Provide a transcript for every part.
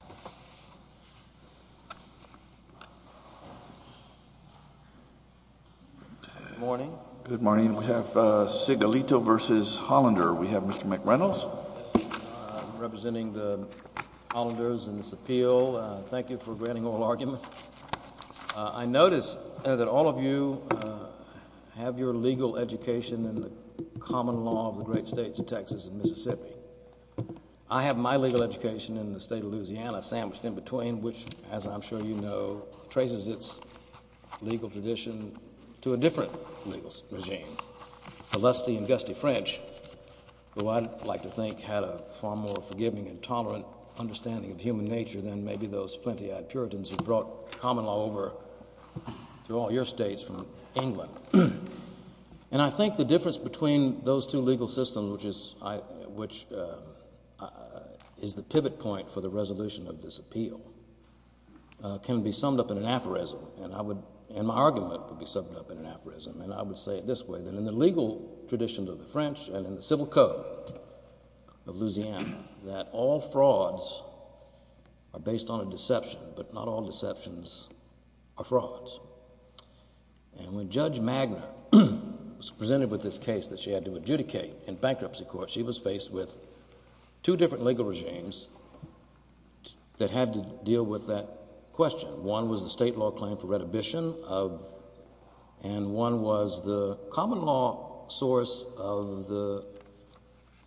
Mr. McReynolds, representing the Hollanders in this appeal. Thank you for granting oral arguments. I notice that all of you have your legal education in the common law of the great of Louisiana sandwiched in between, which, as I'm sure you know, traces its legal tradition to a different legal regime, a lusty and gusty French, who I'd like to think had a far more forgiving and tolerant understanding of human nature than maybe those plenty-eyed Puritans who brought common law over through all your states from England. And I think the difference between those two legal systems, which is the pivot point for the resolution of this appeal, can be summed up in an aphorism. And my argument would be summed up in an aphorism. And I would say it this way, that in the legal traditions of the French and in the civil code of Louisiana, that all frauds are based on a deception, but not all deceptions are frauds. And when Judge Magner was presented with this case that she had to adjudicate in bankruptcy court, she was faced with two different legal regimes that had to deal with that question. One was the state law claim for retribution, and one was the common law source of the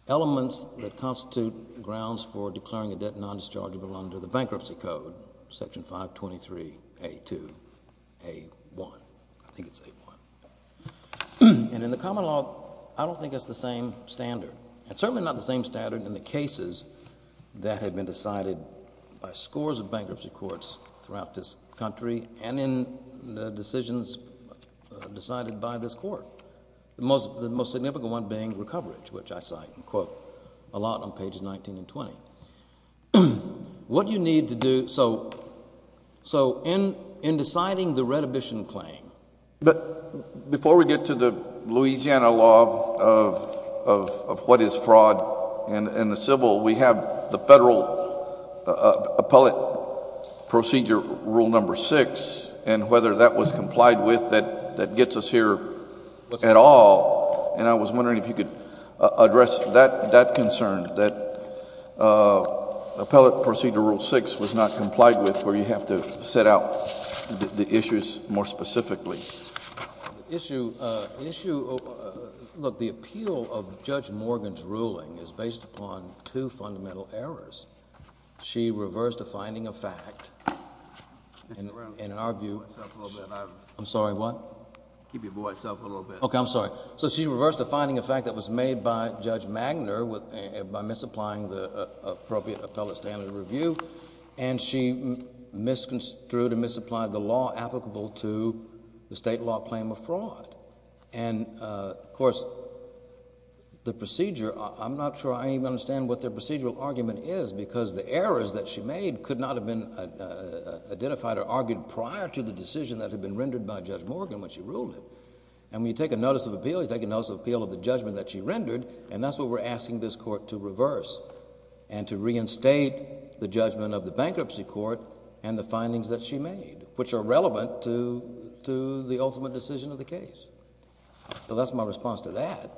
elements that constitute grounds for declaring a debt non-dischargeable under the bankruptcy code, section 523A2A1. I think it's A1. And in the common law, I don't think it's the same standard. It's certainly not the same standard in the cases that have been decided by scores of bankruptcy courts throughout this country and in the decisions decided by this court. The most significant one being recoverage, which I cite and quote a lot on pages 19 and 20. What you need to do, so in deciding the retribution claim— But before we get to the Louisiana law of what is fraud in the civil, we have the federal appellate procedure rule number 6, and whether that was complied with that gets us here at all. And I was wondering if you could address that concern, that appellate procedure rule 6 was not complied with, where you have to set out the issues more specifically. The issue—look, the appeal of Judge Morgan's ruling is based upon two fundamental errors. She reversed a finding of fact, and in our view— Keep your voice up a little bit. I'm sorry, what? Keep your voice up a little bit. I'm sorry. So she reversed a finding of fact that was made by Judge Magner by misapplying the appropriate appellate standard of review, and she misconstrued and misapplied the law applicable to the state law claim of fraud. And of course, the procedure, I'm not sure I even understand what their procedural argument is, because the errors that she made could not have been identified or argued prior to the decision that had been rendered by And so when you take a notice of appeal, you take a notice of appeal of the judgment that she rendered, and that's what we're asking this court to reverse, and to reinstate the judgment of the bankruptcy court and the findings that she made, which are relevant to the ultimate decision of the case. So that's my response to that.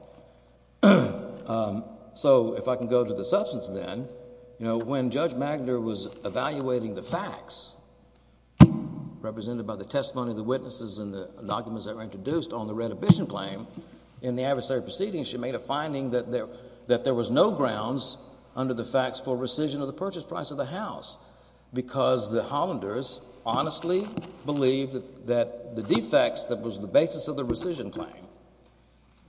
So if I can go to the substance then, you know, when Judge Magner was evaluating the claim in the adversary proceeding, she made a finding that there was no grounds under the facts for rescission of the purchase price of the house, because the Hollanders honestly believed that the defects that was the basis of the rescission claim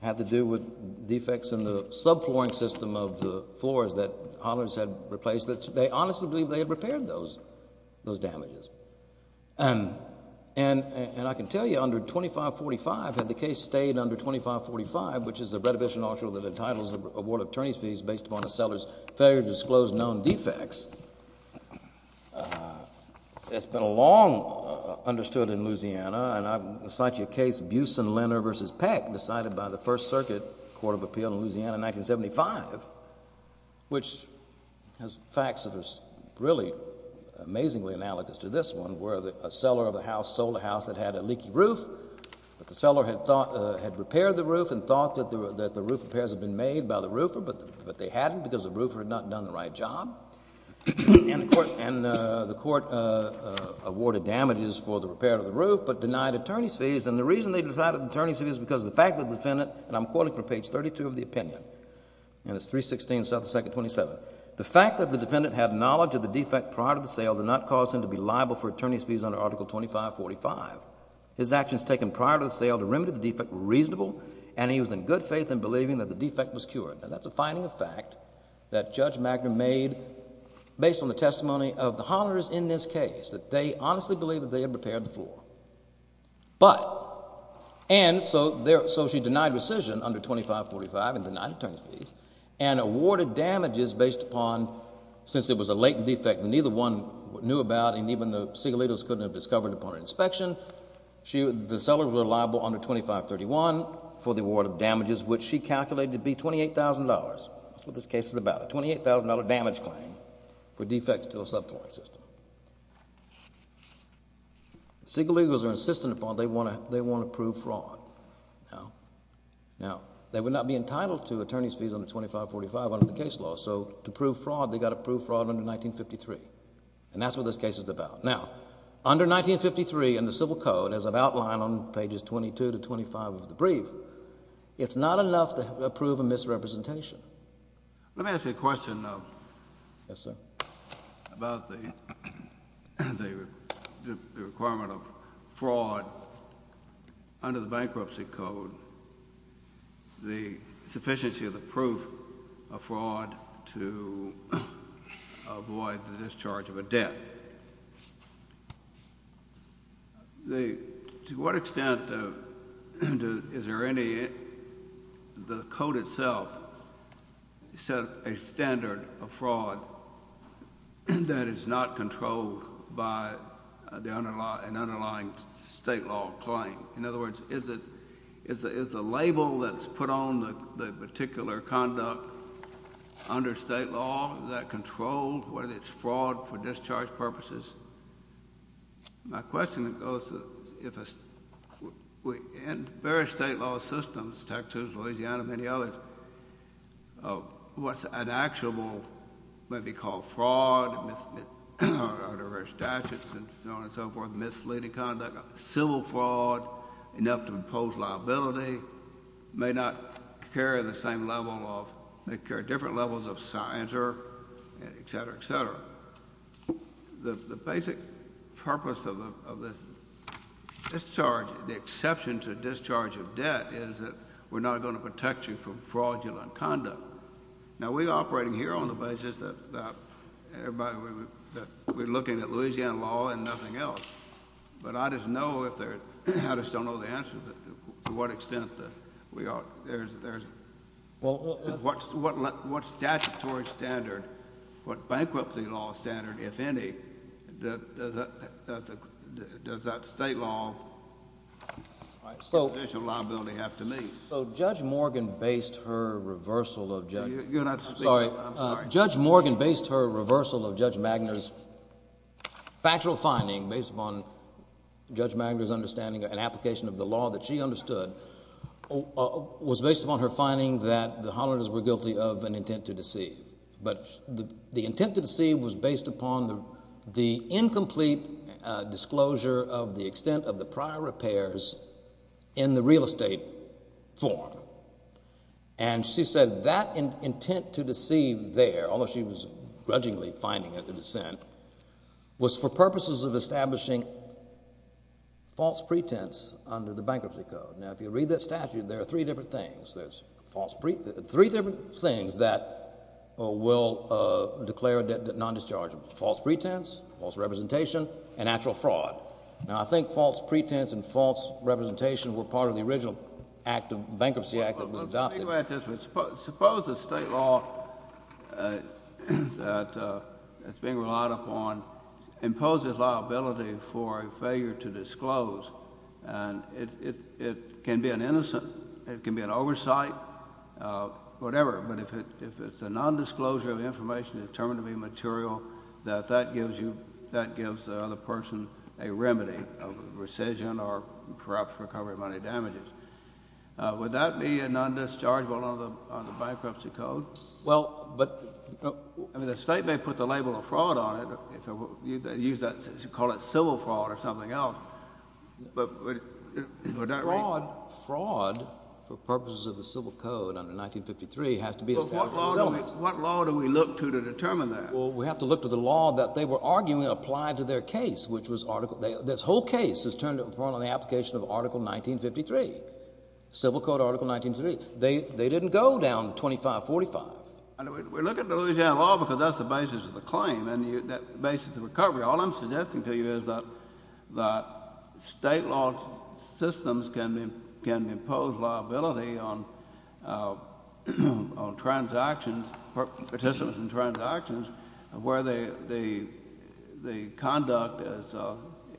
had to do with defects in the subflooring system of the floors that Hollanders had replaced. They honestly believed they had repaired those damages. And I can tell you under 2545, had the case stayed under 2545, which is the Reddivision Article that entitles the award of attorney's fees based upon a seller's failure to disclose known defects, it's been long understood in Louisiana, and I'll cite you a case, Buesen-Lenner v. Peck, decided by the First Circuit Court of Appeal in Louisiana in 1975, which has been really amazingly analogous to this one, where a seller of a house sold a house that had a leaky roof, but the seller had repaired the roof and thought that the roof repairs had been made by the roofer, but they hadn't because the roofer had not done the right job, and the court awarded damages for the repair of the roof, but denied attorney's fees. And the reason they decided attorney's fees is because the fact that the defendant, and I'm quoting from page 32 of the opinion, and it's 316, 2nd 27, the fact that the defendant had knowledge of the defect prior to the sale did not cause him to be liable for attorney's fees under Article 2545. His actions taken prior to the sale to remedy the defect were reasonable, and he was in good faith in believing that the defect was cured. Now, that's a finding of fact that Judge Magner made based on the testimony of the hollers in this case, that they honestly believed that they had repaired the floor. But, and so she denied rescission under 2545 and denied attorney's fees, and awarded damages based upon, since it was a late defect that neither one knew about, and even the Segalitos couldn't have discovered upon inspection, the seller was liable under 2531 for the award of damages, which she calculated to be $28,000, what this case is about, a $28,000 damage claim for defects to a subfloor system. Segalitos are insistent upon, they want to prove fraud. Now, they would not be entitled to attorney's fees under 2545 under the case law. So, to prove fraud, they've got to prove fraud under 1953, and that's what this case is about. Now, under 1953, in the Civil Code, as I've outlined on pages 22 to 25 of the brief, it's not enough to prove a misrepresentation. Let me ask you a question, though, about the requirement of fraud under the Bankruptcy Code, the sufficiency of the proof of fraud to avoid the discharge of a debt. To what extent is there any, the code itself, set a standard of fraud that is not controlled by an underlying state law claim? In other words, is it, is the label that's put on the particular conduct under state law, is that controlled, whether it's fraud for discharge purposes? My question goes, if a, in various state law systems, Texas, Louisiana, many others, what's an actual, maybe called fraud, under various statutes and so on and so forth, misleading conduct, civil fraud, enough to impose liability, may not carry the same level of, may carry different levels of censure, et cetera, et cetera. The basic purpose of this discharge, the exception to discharge of debt, is that we're not going to protect you from fraudulent conduct. Now, we're operating here on the basis that everybody, that we're looking at Louisiana law and nothing else, but I just know if there, I just don't know the answer to what extent we are, there's, what statutory standard, what bankruptcy law standard, if any, does that state law, judicial liability have to meet? So Judge Morgan based her reversal of Judge, I'm sorry, Judge Morgan based her reversal of Judge Magner's factual finding, based upon Judge Magner's understanding and application of the law that she understood, was based upon her finding that the Hollanders were guilty of an intent to deceive. But the intent to deceive was based upon the incomplete disclosure of the extent of the prior repairs in the real estate form. And she said that intent to deceive there, although she was grudgingly finding it a dissent, was for purposes of establishing false pretense under the bankruptcy code. Now, if you read that statute, there are three different things. There's three different things that will declare a debt non-dischargeable, false pretense, false representation, and actual fraud. Now, I think false pretense and false representation were part of the original act of bankruptcy that was adopted. Well, let's take a look at this. Suppose the state law that it's being relied upon imposes liability for a failure to disclose, and it can be an innocent, it can be an oversight, whatever, but if it's a nondisclosure of information determined to be material, that that gives you, that gives the other person a remedy of rescission or perhaps recovery of money damages. Would that be a non-dischargeable under the bankruptcy code? Well, but— I mean, the state may put the label of fraud on it, use that, call it civil fraud or something else, but would that— Fraud, for purposes of the civil code under 1953, has to be established as elements. What law do we look to to determine that? Well, we have to look to the law that they were arguing applied to their case, which was Article—this whole case is turned upon on the application of Article 1953, Civil Code Article 1953. They didn't go down to 2545. We look at the Louisiana law because that's the basis of the claim, and that's the basis of the recovery. All I'm suggesting to you is that state law systems can impose liability on transactions, participants in transactions, where the conduct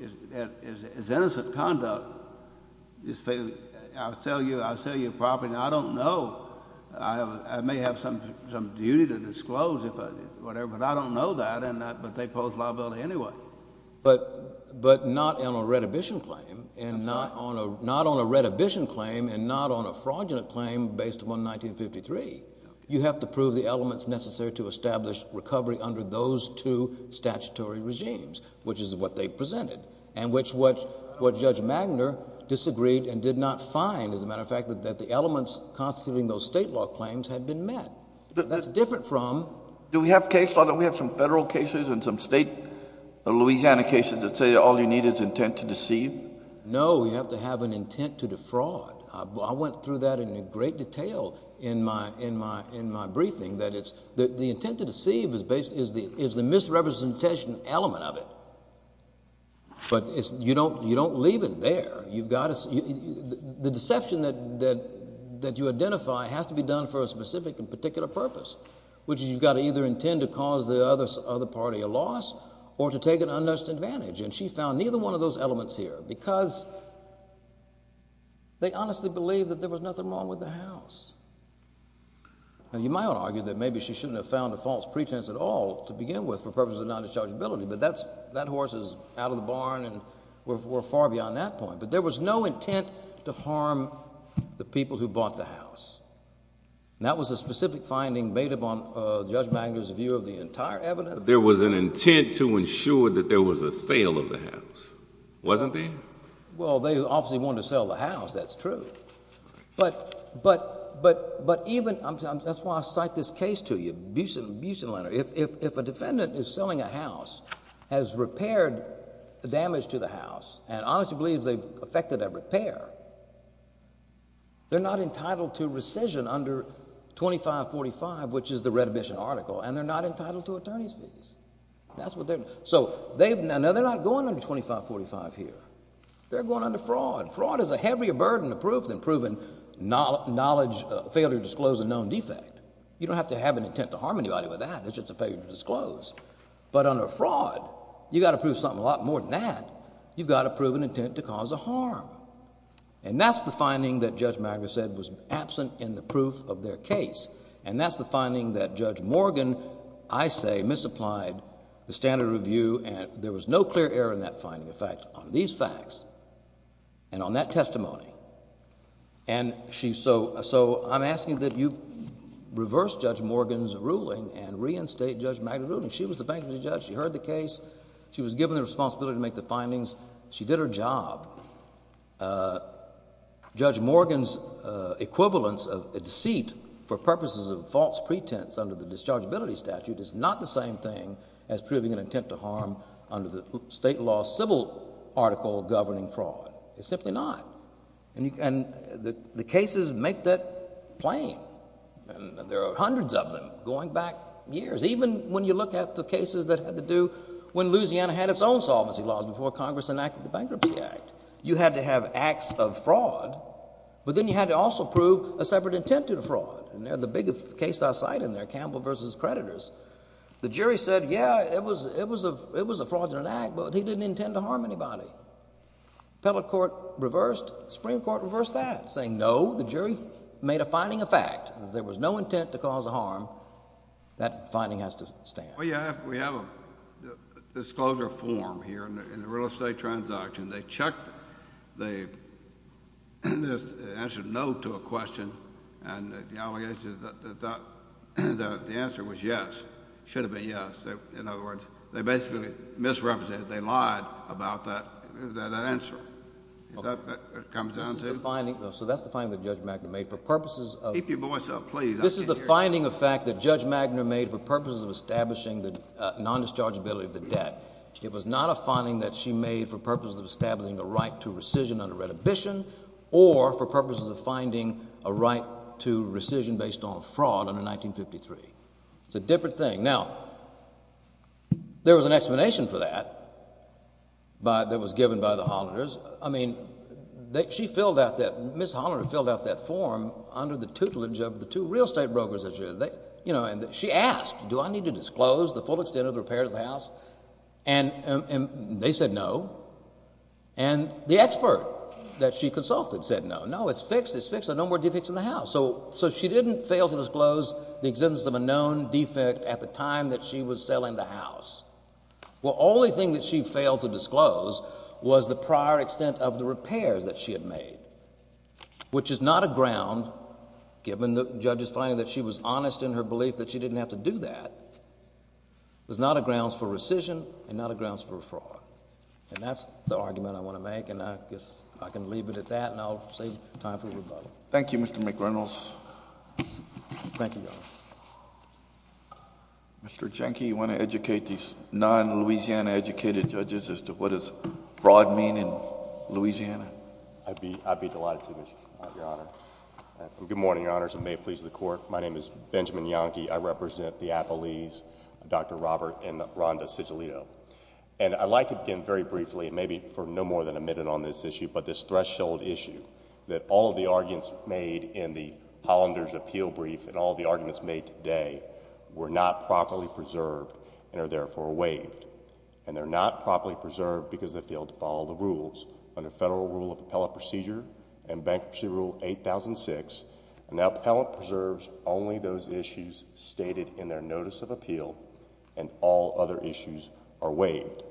is innocent conduct. I'll sell you a property, and I don't know. I may have some duty to disclose, whatever, but I don't know that, but they impose liability anyway. But not on a redhibition claim, and not on a fraudulent claim based upon 1953. You have to prove the elements necessary to establish recovery under those two statutory regimes, which is what they presented, and which what Judge Magner disagreed and did not find, as a matter of fact, that the elements constituting those state law claims had been met. That's different from— Do we have case law? Don't we have some federal cases and some state Louisiana cases that say all you need is intent to deceive? No, you have to have an intent to defraud. I went through that in great detail in my briefing, that the intent to deceive is the misrepresentation element of it, but you don't leave it there. The deception that you identify has to be done for a specific and particular purpose, which is you've got to either intend to cause the other party a loss, or to take an advantage of those elements here, because they honestly believe that there was nothing wrong with the house. And you might argue that maybe she shouldn't have found a false pretense at all to begin with, for purposes of non-dischargeability, but that horse is out of the barn and we're far beyond that point. But there was no intent to harm the people who bought the house. And that was a specific finding made up on Judge Magner's view of the entire evidence. There was an intent to ensure that there was a sale of the house, wasn't there? Well, they obviously wanted to sell the house, that's true. But even... that's why I cite this case to you, Busen and Leonard. If a defendant is selling a house, has repaired the damage to the house, and honestly believes they've effected a repair, they're not entitled to rescission under 2545, which is the redemption article, and they're not entitled to attorney's fees. Now, they're not going under 2545 here. They're going under fraud. Fraud is a heavier burden of proof than proven knowledge, failure to disclose a known defect. You don't have to have an intent to harm anybody with that. It's just a failure to disclose. But under fraud, you've got to prove something a lot more than that. You've got to prove an intent to cause a harm. And that's the finding that Judge Magner said was absent in the proof of their case. And that's the finding that Judge Morgan, I say, misapplied the standard of review. And there was no clear error in that finding, in fact, on these facts and on that testimony. And so I'm asking that you reverse Judge Morgan's ruling and reinstate Judge Magner's ruling. She was the bankruptcy judge. She heard the case. She was given the responsibility to make the findings. She did her job. Judge Morgan's equivalence of a deceit for purposes of false pretense under the Dischargeability Statute is not the same thing as proving an intent to harm under the state law civil article governing fraud. It's simply not. And the cases make that plain. And there are hundreds of them going back years. Even when you look at the cases that had to do when Louisiana had its own solvency laws before Congress enacted the Bankruptcy Act. You had to have acts of fraud. But then you had to also prove a separate intent to the fraud. And they're the biggest case I cite in there, Campbell v. Creditors. The jury said, yeah, it was a fraudulent act, but he didn't intend to harm anybody. Appellate Court reversed. Supreme Court reversed that, saying, no, the jury made a finding a fact. There was no intent to cause a harm. That finding has to stand. Well, yeah, we have a disclosure form here in the real estate transaction. They checked the answer no to a question, and the answer was yes, should have been yes. In other words, they basically misrepresented it. They lied about that answer. Is that what it comes down to? So that's the finding that Judge McNamara made. For purposes of— Keep your voice up, please. This is the finding of fact that Judge Magner made for purposes of establishing the nondischargeability of the debt. It was not a finding that she made for purposes of establishing a right to rescission under Redhibition or for purposes of finding a right to rescission based on fraud under 1953. It's a different thing. Now, there was an explanation for that that was given by the Hollanders. I mean, she filled out that—Ms. Hollander filled out that form under the tutelage of the two real estate brokers that she had. She asked, do I need to disclose the full extent of the repairs of the house? And they said no. And the expert that she consulted said no. No, it's fixed. It's fixed. There are no more defects in the house. So she didn't fail to disclose the existence of a known defect at the time that she was selling the house. Well, the only thing that she failed to disclose was the prior extent of the repairs that she had made, which is not a ground, given the judge's finding that she was honest in her belief that she didn't have to do that, was not a grounds for rescission and not a grounds for fraud. And that's the argument I want to make, and I guess I can leave it at that, and I'll save time for rebuttal. Thank you, Mr. McReynolds. Thank you, Your Honor. Mr. Jahnke, you want to educate these non-Louisiana-educated judges as to what does fraud mean in Louisiana? I'd be delighted to, Your Honor. Good morning, Your Honors, and may it please the Court. My name is Benjamin Jahnke. I represent the Appleese, Dr. Robert and Rhonda Sigilito. And I'd like to begin very briefly, and maybe for no more than a minute on this issue, but this threshold issue that all of the arguments made in the Hollander's appeal brief and all of the arguments made today were not properly preserved and are therefore waived. And they're not properly preserved because they failed to follow the rules under Federal Rule of Appellate Procedure and Bankruptcy Rule 8006, and now Appellate preserves only those issues stated in their Notice of Appeal, and all other issues are waived.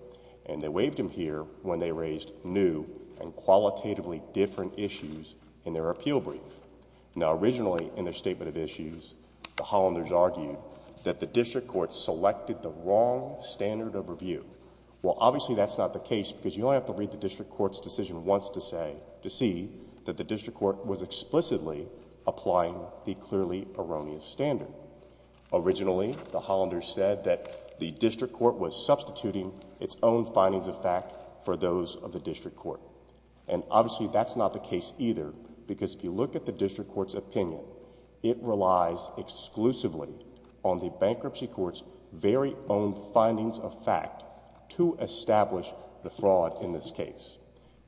And they waived them here when they raised new and qualitatively different issues in their appeal brief. Now, originally in their statement of issues, the Hollanders argued that the district court selected the wrong standard of review. Well, obviously that's not the case because you only have to read the district court's decision once to see that the district court was explicitly applying the clearly erroneous standard. Originally, the Hollanders said that the district court was substituting its own findings of fact for those of the district court. And obviously that's not the case either because if you look at the district court's opinion, it relies exclusively on the bankruptcy court's very own findings of fact to establish the fraud in this case.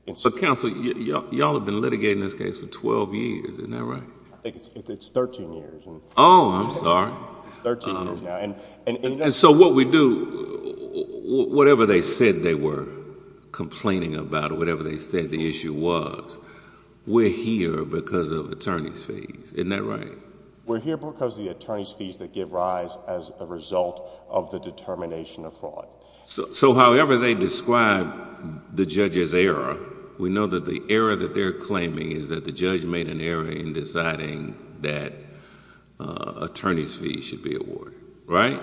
But counsel, you all have been litigating this case for twelve years, isn't that right? I think it's thirteen years. Oh, I'm sorry. It's thirteen years now. And so what we do, whatever they said they were complaining about, whatever they said the issue was, we're here because of attorney's fees, isn't that right? We're here because of the attorney's fees that give rise as a result of the determination of fraud. So however they describe the judge's error, we know that the error that they're claiming is that the judge made an error in deciding that attorney's fees should be awarded, right?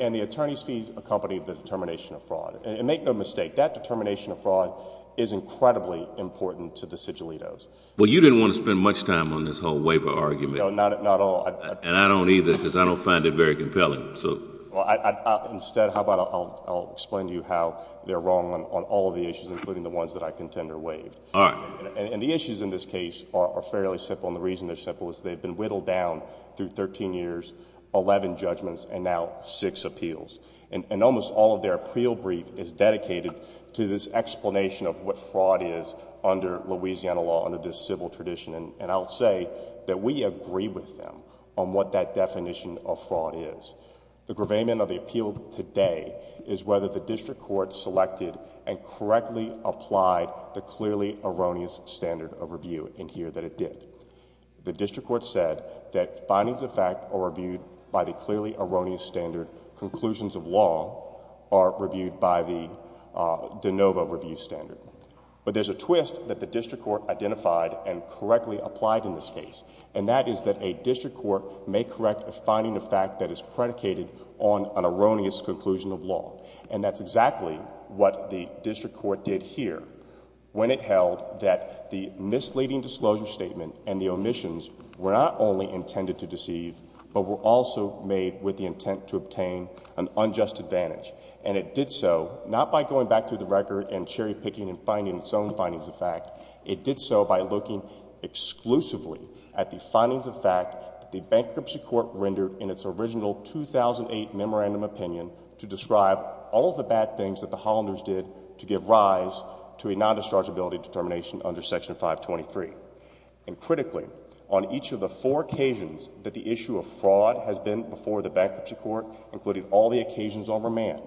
And the attorney's fees accompany the determination of fraud. And make no mistake, that determination of fraud is incredibly important to the sigillitos. Well, you didn't want to spend much time on this whole waiver argument. No, not at all. And I don't either because I don't find it very compelling. Instead, how about I'll explain to you how they're wrong on all of the issues, including the ones that I contend are waived. All right. And the issues in this case are fairly simple. And the reason they're simple is they've been whittled down through thirteen years, eleven judgments, and now six appeals. And almost all of their appeal brief is dedicated to this explanation of what fraud is under Louisiana law, under this civil tradition. And I'll say that we agree with them on what that definition of fraud is. The gravamen of the appeal today is whether the district court selected and correctly applied the clearly erroneous standard of review in here that it did. The district court said that findings of fact are reviewed by the clearly erroneous standard. Conclusions of law are reviewed by the de novo review standard. But there's a twist that the district court identified and correctly applied in this case. And that is that a district court may correct a finding of fact that is predicated on an erroneous conclusion of law. And that's exactly what the district court did here when it held that the misleading disclosure statement and the omissions were not only intended to deceive, but were also made with the intent to obtain an unjust advantage. And it did so not by going back through the record and cherry picking and finding its own findings of fact. It did so by looking exclusively at the findings of fact that the bankruptcy court rendered in its original 2008 memorandum opinion to describe all of the bad things that the Hollanders did to give rise to a non-dischargeability determination under Section 523. And critically, on each of the four occasions that the issue of fraud has been before the bankruptcy court, including all the occasions on remand,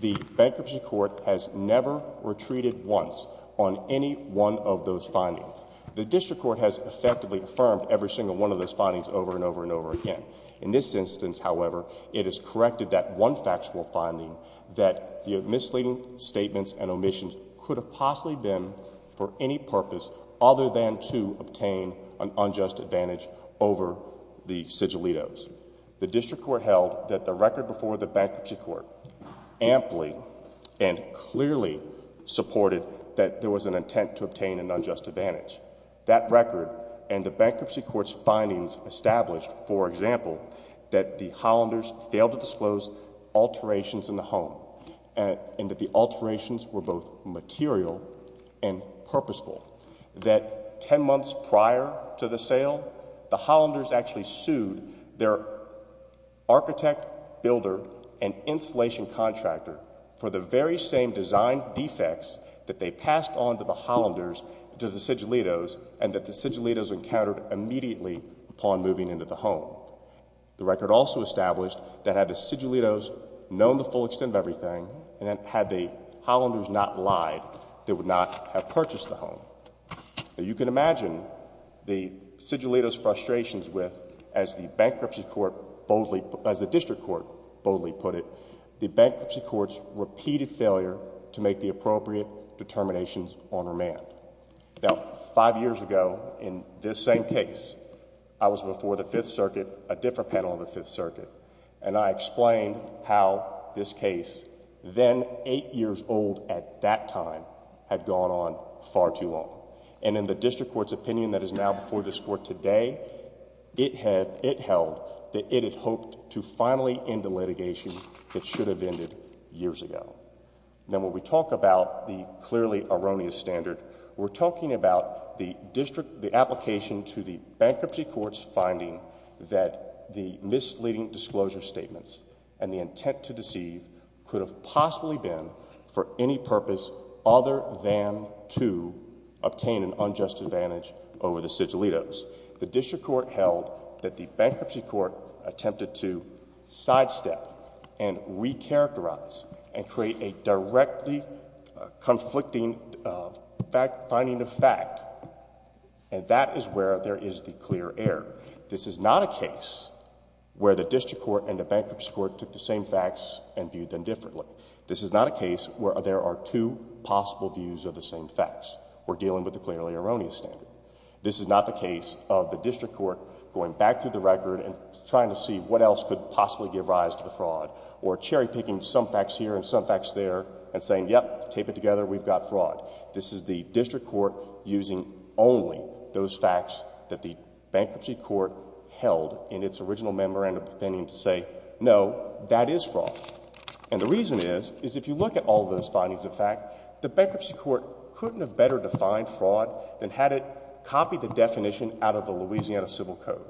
the bankruptcy court has never retreated once on any one of those findings. The district court has effectively affirmed every single one of those findings over and over and over again. In this instance, however, it has corrected that one factual finding that the misleading statements and omissions could have possibly been for any purpose other than to obtain an unjust advantage over the sigillitos. The district court held that the record before the bankruptcy court amply and clearly supported that there was an intent to obtain an unjust advantage. That record and the bankruptcy court's findings established, for example, that the Hollanders failed to disclose alterations in the home and that the alterations were both material and purposeful. That 10 months prior to the sale, the Hollanders actually sued their architect, builder, and installation contractor for the very same design defects that they passed on to the Hollanders, to the sigillitos, and that the sigillitos encountered immediately upon moving into the home. The record also established that had the sigillitos known the full extent of everything, and that had the Hollanders not lied, they would not have purchased the home. You can imagine the sigillitos' frustrations with, as the bankruptcy court boldly, as the district court boldly put it, the bankruptcy court's repeated failure to make the appropriate determinations on remand. Now, five years ago, in this same case, I was before the Fifth Circuit, a different panel of the Fifth Circuit, and I explained how this case, then eight years old at that time, had gone on far too long. And in the district court's opinion that is now before this court today, it held that it had hoped to finally end the litigation that should have ended years ago. Now, when we talk about the clearly erroneous standard, we're talking about the district, the application to the bankruptcy court's finding that the misleading disclosure statements and the intent to deceive could have possibly been for any purpose other than to obtain an unjust advantage over the sigillitos. The district court held that the bankruptcy court attempted to sidestep and recharacterize and create a directly conflicting finding of fact, and that is where there is the clear error. This is not a case where the district court and the bankruptcy court took the same facts and viewed them differently. This is not a case where there are two possible views of the same facts. We're dealing with the clearly erroneous standard. This is not the case of the district court going back through the record and trying to see what else could possibly give rise to the fraud, or cherry-picking some facts here and some facts there and saying, yep, tape it together, we've got fraud. This is the district court using only those facts that the bankruptcy court held in its original memorandum to say, no, that is fraud. And the reason is, is if you look at all those findings of fact, the bankruptcy court couldn't have better defined fraud than had it copied the definition out of the Louisiana Civil Code.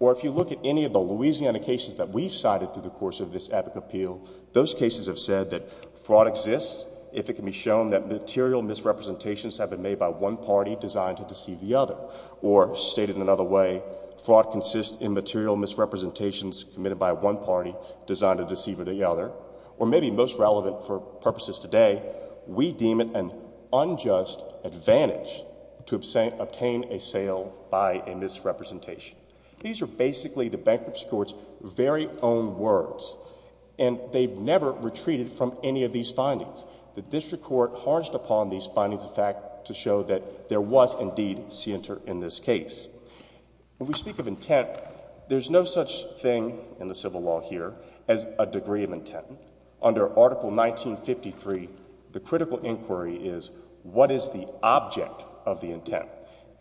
Or if you look at any of the Louisiana cases that we've cited through the course of this epic appeal, those cases have said that fraud exists if it can be shown that material misrepresentations have been made by one party designed to deceive the other. Or stated in another way, fraud consists in material misrepresentations committed by one party designed to deceive the other. Or maybe most relevant for purposes today, we deem it an unjust advantage to obtain a sale by a misrepresentation. These are basically the bankruptcy court's very own words. And they've never retreated from any of these findings. The district court harnessed upon these findings of fact to show that there was indeed center in this case. When we speak of intent, there's no such thing in the civil law here as a degree of intent. Under Article 1953, the critical inquiry is, what is the object of the intent?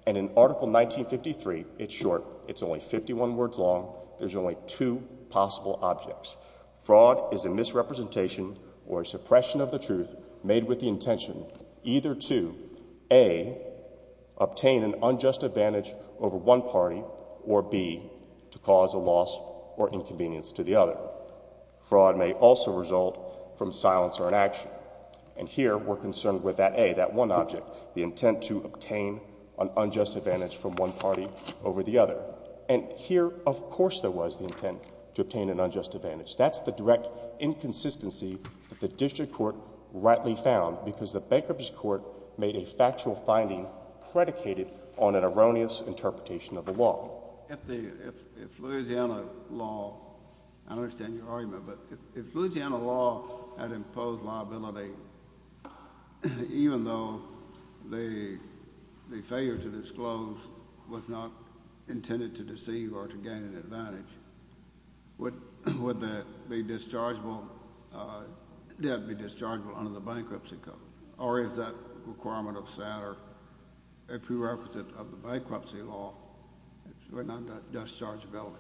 And in Article 1953, it's short. It's only 51 words long. There's only two possible objects. Fraud is a misrepresentation or suppression of the truth made with the intention either to, A, obtain an unjust advantage over one party, or B, to cause a loss or inconvenience to the other. Fraud may also result from silence or inaction. And here, we're concerned with that A, that one object, the intent to obtain an unjust advantage from one party over the other. And here, of course, there was the intent to obtain an unjust advantage. That's the direct inconsistency that the district court rightly found because the bankruptcy court made a factual finding predicated on an erroneous interpretation of the law. If Louisiana law, I understand your argument, but if Louisiana law had imposed liability, even though the failure to disclose was not intended to deceive or to gain an advantage, would that be dischargeable under the bankruptcy code? Or is that requirement of SATR a prerequisite of the bankruptcy law? It's not a dischargeability.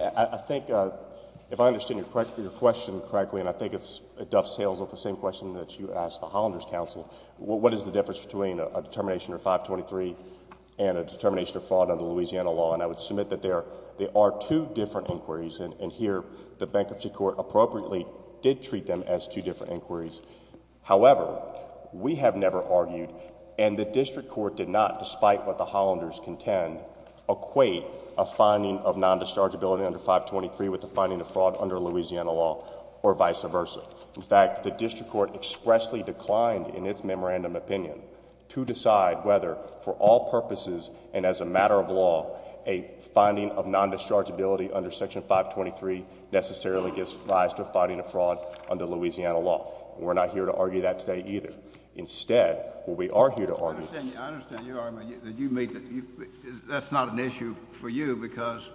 I think, if I understand your question correctly, and I think it dovetails with the same question that you asked the Hollander's counsel, what is the difference between a determination under 523 and a determination of fraud under Louisiana law? And I would submit that there are two different inquiries, and here, the bankruptcy court appropriately did treat them as two different inquiries. However, we have never argued, and the district court did not, despite what the Hollanders contend, equate a finding of non-dischargeability under 523 with a finding of fraud under Louisiana law, or vice versa. In fact, the district court expressly declined in its memorandum opinion to decide whether, for all purposes, and as a matter of law, a finding of non-dischargeability under Section 523 necessarily gives rise to a finding of fraud under Louisiana law. We're not here to argue that today, either. Instead, what we are here to argue is... I understand you. I understand you are. That's not an issue for you because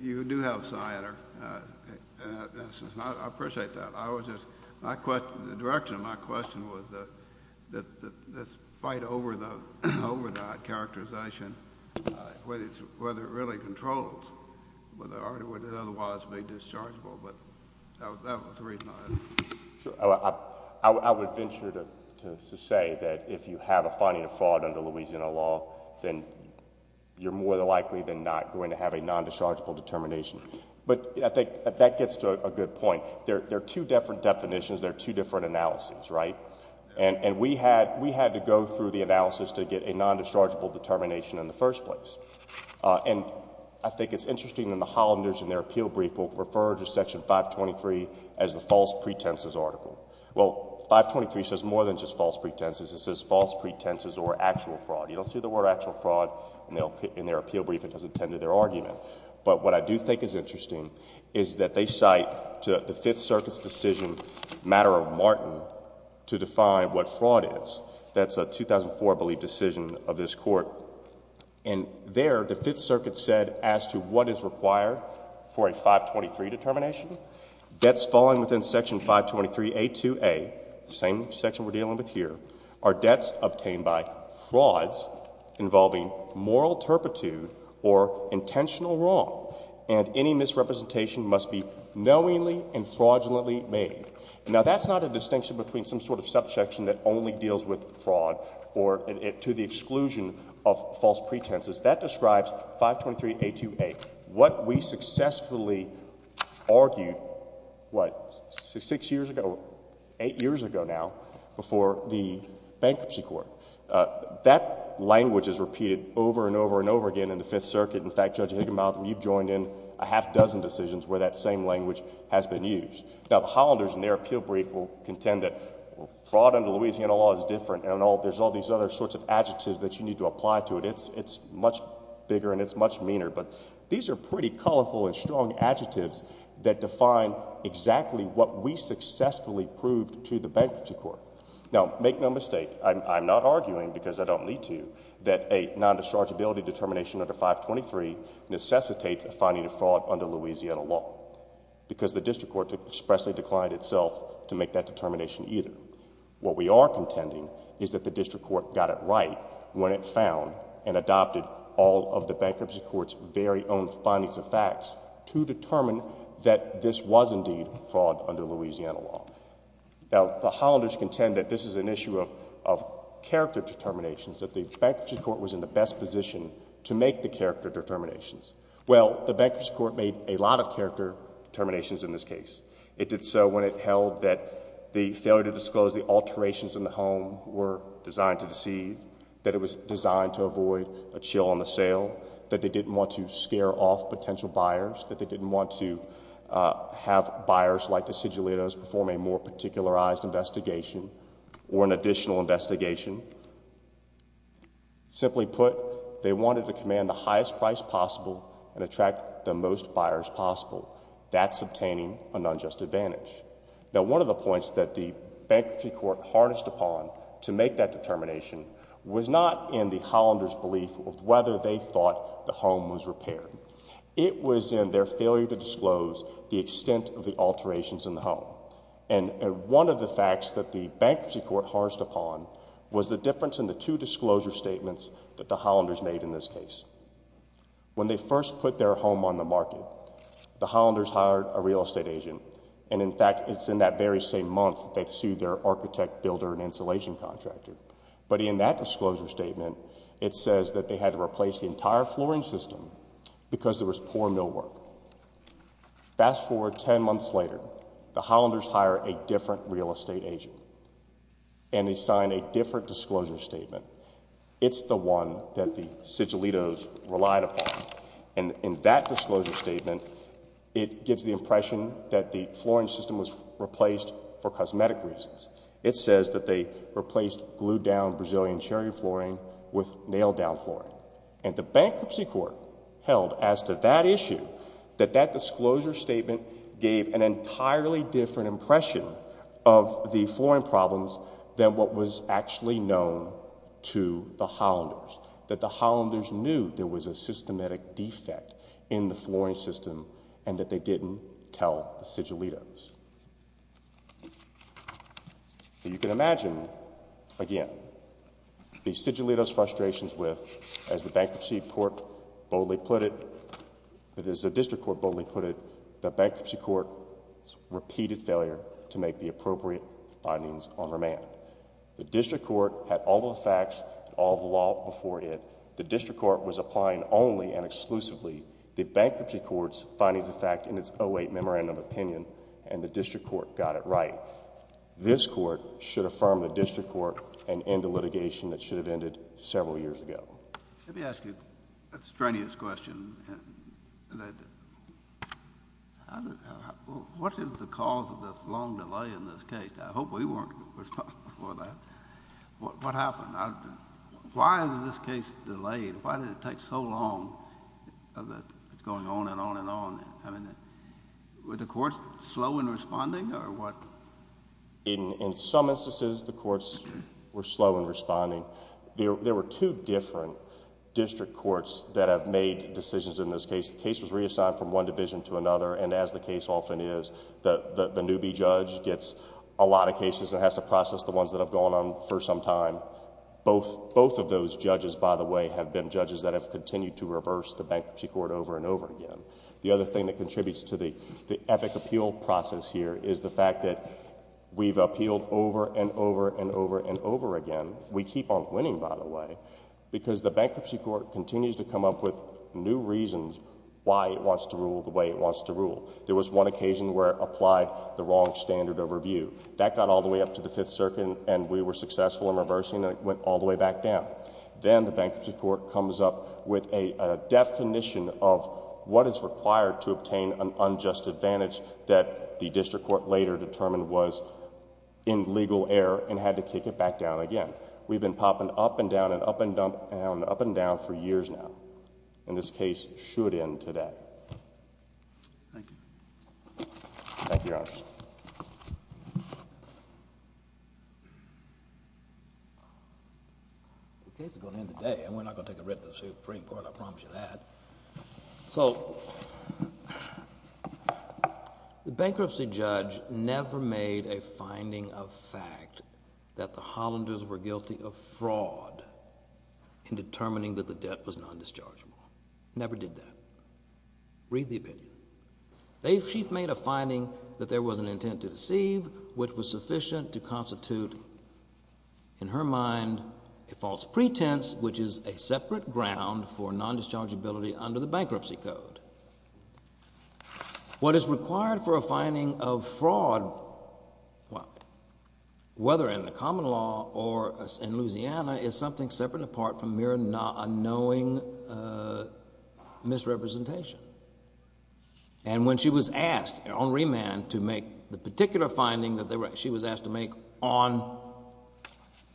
you do have SINR, and I appreciate that. I was just... the direction of my question was that this fight over the overdrive characterization, whether it really controls, whether it would otherwise be dischargeable, but that was the reason I asked. I would venture to say that if you have a finding of fraud under Louisiana law, then you're more likely than not going to have a non-dischargeable determination. But I think that gets to a good point. There are two different definitions. There are two different analyses, right? And we had to go through the analysis to get a non-dischargeable determination in the first place. And I think it's interesting that the Hollanders in their appeal brief will refer to Section 523 as the false pretenses article. Well, 523 says more than just false pretenses. It says false pretenses or actual fraud. You don't see the word actual fraud in their appeal brief. It doesn't tend to their argument. But what I do think is interesting is that they cite the Fifth Circuit's decision, Matter of Martin, to define what fraud is. That's a 2004, I believe, decision of this Court. And there, the Fifth Circuit said as to what is required for a 523 determination. Debts falling within Section 523A2A, the same section we're dealing with here, are debts obtained by frauds involving moral turpitude or intentional wrong, and any misrepresentation must be knowingly and fraudulently made. Now, that's not a distinction between some sort of subsection that only deals with fraud or to the exclusion of false pretenses. That describes 523A2A. What we successfully argued, what, six years ago, eight years ago now, before the bankruptcy court, that language is repeated over and over and over again in the Fifth Circuit. In fact, Judge Higginbotham, you've joined in a half dozen decisions where that same language has been used. Now, the Hollanders in their appeal brief will contend that fraud under Louisiana law is different, and there's all these other sorts of adjectives that you need to apply to it. It's much bigger, and it's much meaner, but these are pretty colorful and strong adjectives that define exactly what we successfully proved to the bankruptcy court. Now, make no mistake, I'm not arguing, because I don't need to, that a non-dischargeability determination under 523 necessitates a finding of fraud under Louisiana law because the district court expressly declined itself to make that determination either. What we are contending is that the district court got it right when it found and adopted all of the bankruptcy court's very own findings of facts to determine that this was indeed fraud under Louisiana law. Now, the Hollanders contend that this is an issue of character determinations, that the bankruptcy court was in the best position to make the character determinations. Well, the bankruptcy court made a lot of character determinations in this case. It did so when it held that the failure to disclose the alterations in the home were designed to deceive, that it was designed to avoid a chill on the sale, that they didn't want to scare off potential buyers, that they didn't want to have buyers like the Sigillitos perform a more particularized investigation or an additional investigation. Simply put, they wanted to command the highest price possible and attract the most buyers possible. That's obtaining an unjust advantage. Now, one of the points that the bankruptcy court harnessed upon to make that determination was not in the Hollanders' belief of whether they thought the home was repaired. It was in their failure to disclose the extent of the alterations in the home. And one of the facts that the bankruptcy court harnessed upon was the difference in the two disclosure statements that the Hollanders made in this case. When they first put their home on the market, the Hollanders hired a real estate agent. And, in fact, it's in that very same month that they sued their architect, builder, and insulation contractor. But in that disclosure statement, it says that they had to replace the entire flooring system because there was poor millwork. Fast forward 10 months later. The Hollanders hire a different real estate agent. And they sign a different disclosure statement. It's the one that the Sigillitos relied upon. And in that disclosure statement, it gives the impression that the flooring system was replaced for cosmetic reasons. It says that they replaced glued-down Brazilian cherry flooring with nailed-down flooring. And the bankruptcy court held, as to that issue, that that disclosure statement gave an entirely different impression of the flooring problems than what was actually known to the Hollanders, that the Hollanders knew there was a systematic defect in the flooring system and that they didn't tell the Sigillitos. You can imagine, again, the Sigillitos' frustrations with, as the bankruptcy court boldly put it, as the district court boldly put it, the bankruptcy court's repeated failure to make the appropriate findings on remand. The district court had all the facts, all the law before it. The district court was applying only and exclusively the bankruptcy court's findings of fact in its 08 Memorandum of Opinion, and the district court got it right. This court should affirm the district court and end the litigation that should have ended several years ago. Let me ask you a strenuous question. What is the cause of this long delay in this case? I hope we weren't responsible for that. What happened? Why is this case delayed? Why did it take so long? It's going on and on and on. Were the courts slow in responding or what? In some instances, the courts were slow in responding. There were two different district courts that have made decisions in this case. The case was reassigned from one division to another, and as the case often is, the newbie judge gets a lot of cases and has to process the ones that have gone on for some time. Both of those judges, by the way, have been judges that have continued to reverse the bankruptcy court over and over again. The other thing that contributes to the epic appeal process here is the fact that we've appealed over and over and over and over again. We keep on winning, by the way, because the bankruptcy court continues to come up with new reasons why it wants to rule the way it wants to rule. There was one occasion where it applied the wrong standard overview. That got all the way up to the Fifth Circuit, and we were successful in reversing, and it went all the way back down. Then the bankruptcy court comes up with a definition of what is required to obtain an unjust advantage that the district court later determined was in legal error and had to kick it back down again. We've been popping up and down and up and down and up and down for years now, and this case should end today. Thank you. Thank you, Your Honor. The case is going to end today, and we're not going to take a writ of the Supreme Court, I promise you that. The bankruptcy judge never made a finding of fact that the Hollanders were guilty of fraud in determining that the debt was non-dischargeable. Never did that. Read the opinion. She made a finding that there was an intent to deceive, which was sufficient to constitute in her mind a false pretense, which is a separate ground for non-dischargeability under the bankruptcy code. What is required for a finding of fraud, whether in the common law or in Louisiana, is something separate and apart from mere unknowing misrepresentation. And when she was asked on remand to make the particular finding that she was asked to make on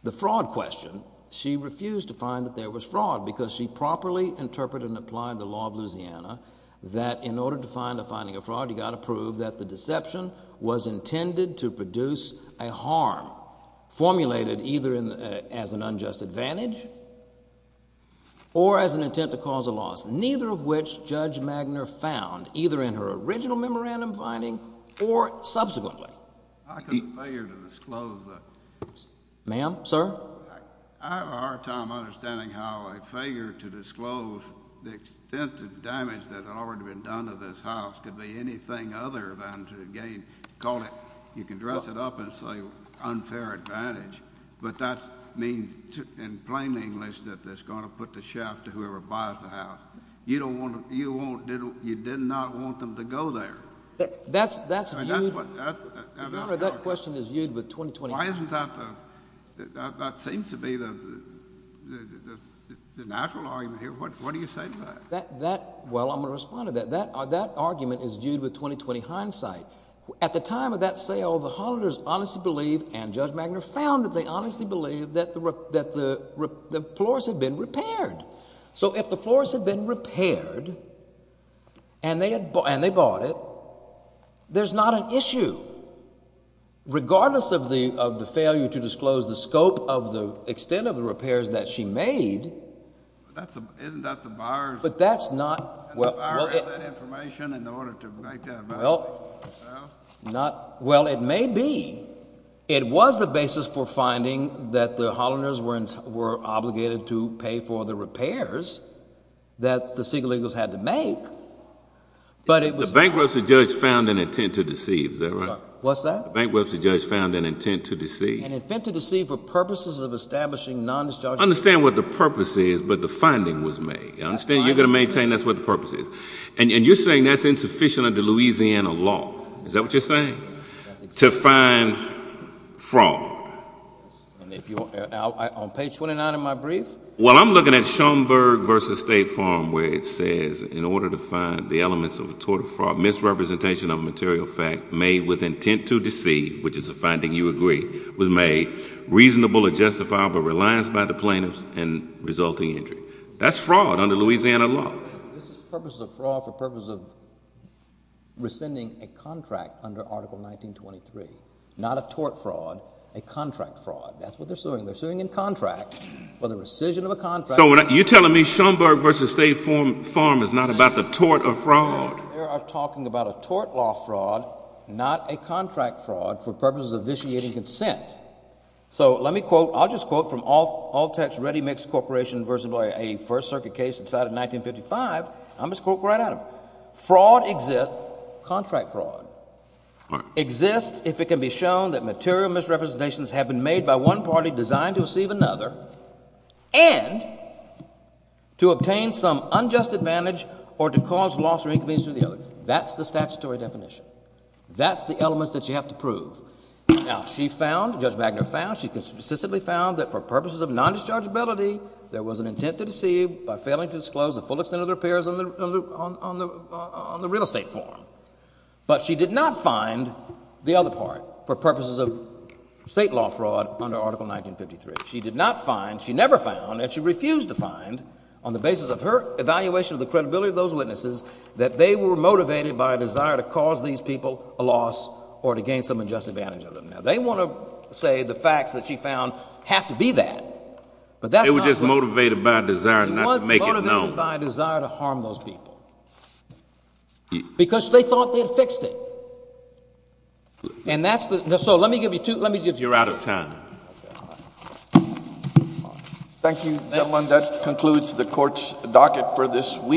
the fraud question, she refused to find that there was fraud because she properly interpreted and applied the law of Louisiana that in order to find a finding of fraud, you've got to prove that the deception was intended to produce a harm, formulated either as an unjust advantage or as an intent to cause a loss, neither of which Judge Magner found either in her original memorandum finding or subsequently. I can fail you to disclose that. Ma'am? Sir? I have a hard time understanding how a failure to disclose the extent of damage that had already been done to this house could be anything other than to again call it—you can dress it up and say unfair advantage. But that means in plain English that it's going to put the shaft to whoever buys the house. You don't want to—you did not want them to go there. That's viewed— That's what— Your Honor, that question is viewed with 20, 20 eyes. Why isn't that the—that seems to be the natural argument here. What do you say to that? That—well, I'm going to respond to that. That argument is viewed with 20, 20 hindsight. At the time of that sale, the Hollanders honestly believed and Judge Magner found that they honestly believed that the floors had been repaired. So if the floors had been repaired and they bought it, there's not an issue. Regardless of the failure to disclose the scope of the extent of the repairs that she made— Isn't that the buyer's— But that's not— And the buyer has that information in order to make that valuation of the house? Not—well, it may be. It was the basis for finding that the Hollanders were obligated to pay for the repairs that the single-legals had to make. But it was not— The bankruptcy judge found an intent to deceive. Is that right? What's that? The bankruptcy judge found an intent to deceive. An intent to deceive for purposes of establishing non-dischargeable— Understand what the purpose is, but the finding was made. Understand? You're going to maintain that's what the purpose is. And you're saying that's insufficient under Louisiana law. Is that what you're saying? To find fraud. On page 29 of my brief? Well, I'm looking at Schoenberg v. State Farm where it says, in order to find the elements of a tort of fraud, misrepresentation of a material fact made with intent to deceive, which is a finding you agree was made reasonable or justifiable reliance by the plaintiffs and resulting injury. That's fraud under Louisiana law. This is for purposes of fraud for purposes of rescinding a contract under Article 1923, not a tort fraud, a contract fraud. That's what they're suing. They're suing in contract for the rescission of a contract— So you're telling me Schoenberg v. State Farm is not about the tort of fraud? No, they are talking about a tort law fraud, not a contract fraud, for purposes of vitiating consent. So let me quote—I'll just quote from Altex Ready Mix Corporation versus a First Circuit case decided in 1955. I'm just going to quote right out of it. Fraud exists—contract fraud exists if it can be shown that material misrepresentations have been made by one party designed to deceive another and to obtain some unjust advantage or to cause loss or inconvenience to the other. That's the statutory definition. That's the elements that you have to prove. Now, she found—Judge Wagner found—she consistently found that for purposes of non-dischargeability, there was an intent to deceive by failing to disclose the full extent of the repairs on the real estate form. But she did not find the other part for purposes of state law fraud under Article 1953. She did not find—she never found and she refused to find on the basis of her evaluation of the credibility of those witnesses that they were motivated by a desire to cause these people a loss or to gain some unjust advantage of them. Now, they want to say the facts that she found have to be that, but that's not what— They were just motivated by a desire not to make it known. They were motivated by a desire to harm those people because they thought they had fixed it. And that's the—so let me give you two—let me give you— You're out of time. Okay. Thank you, gentlemen. That concludes the Court's docket for this week.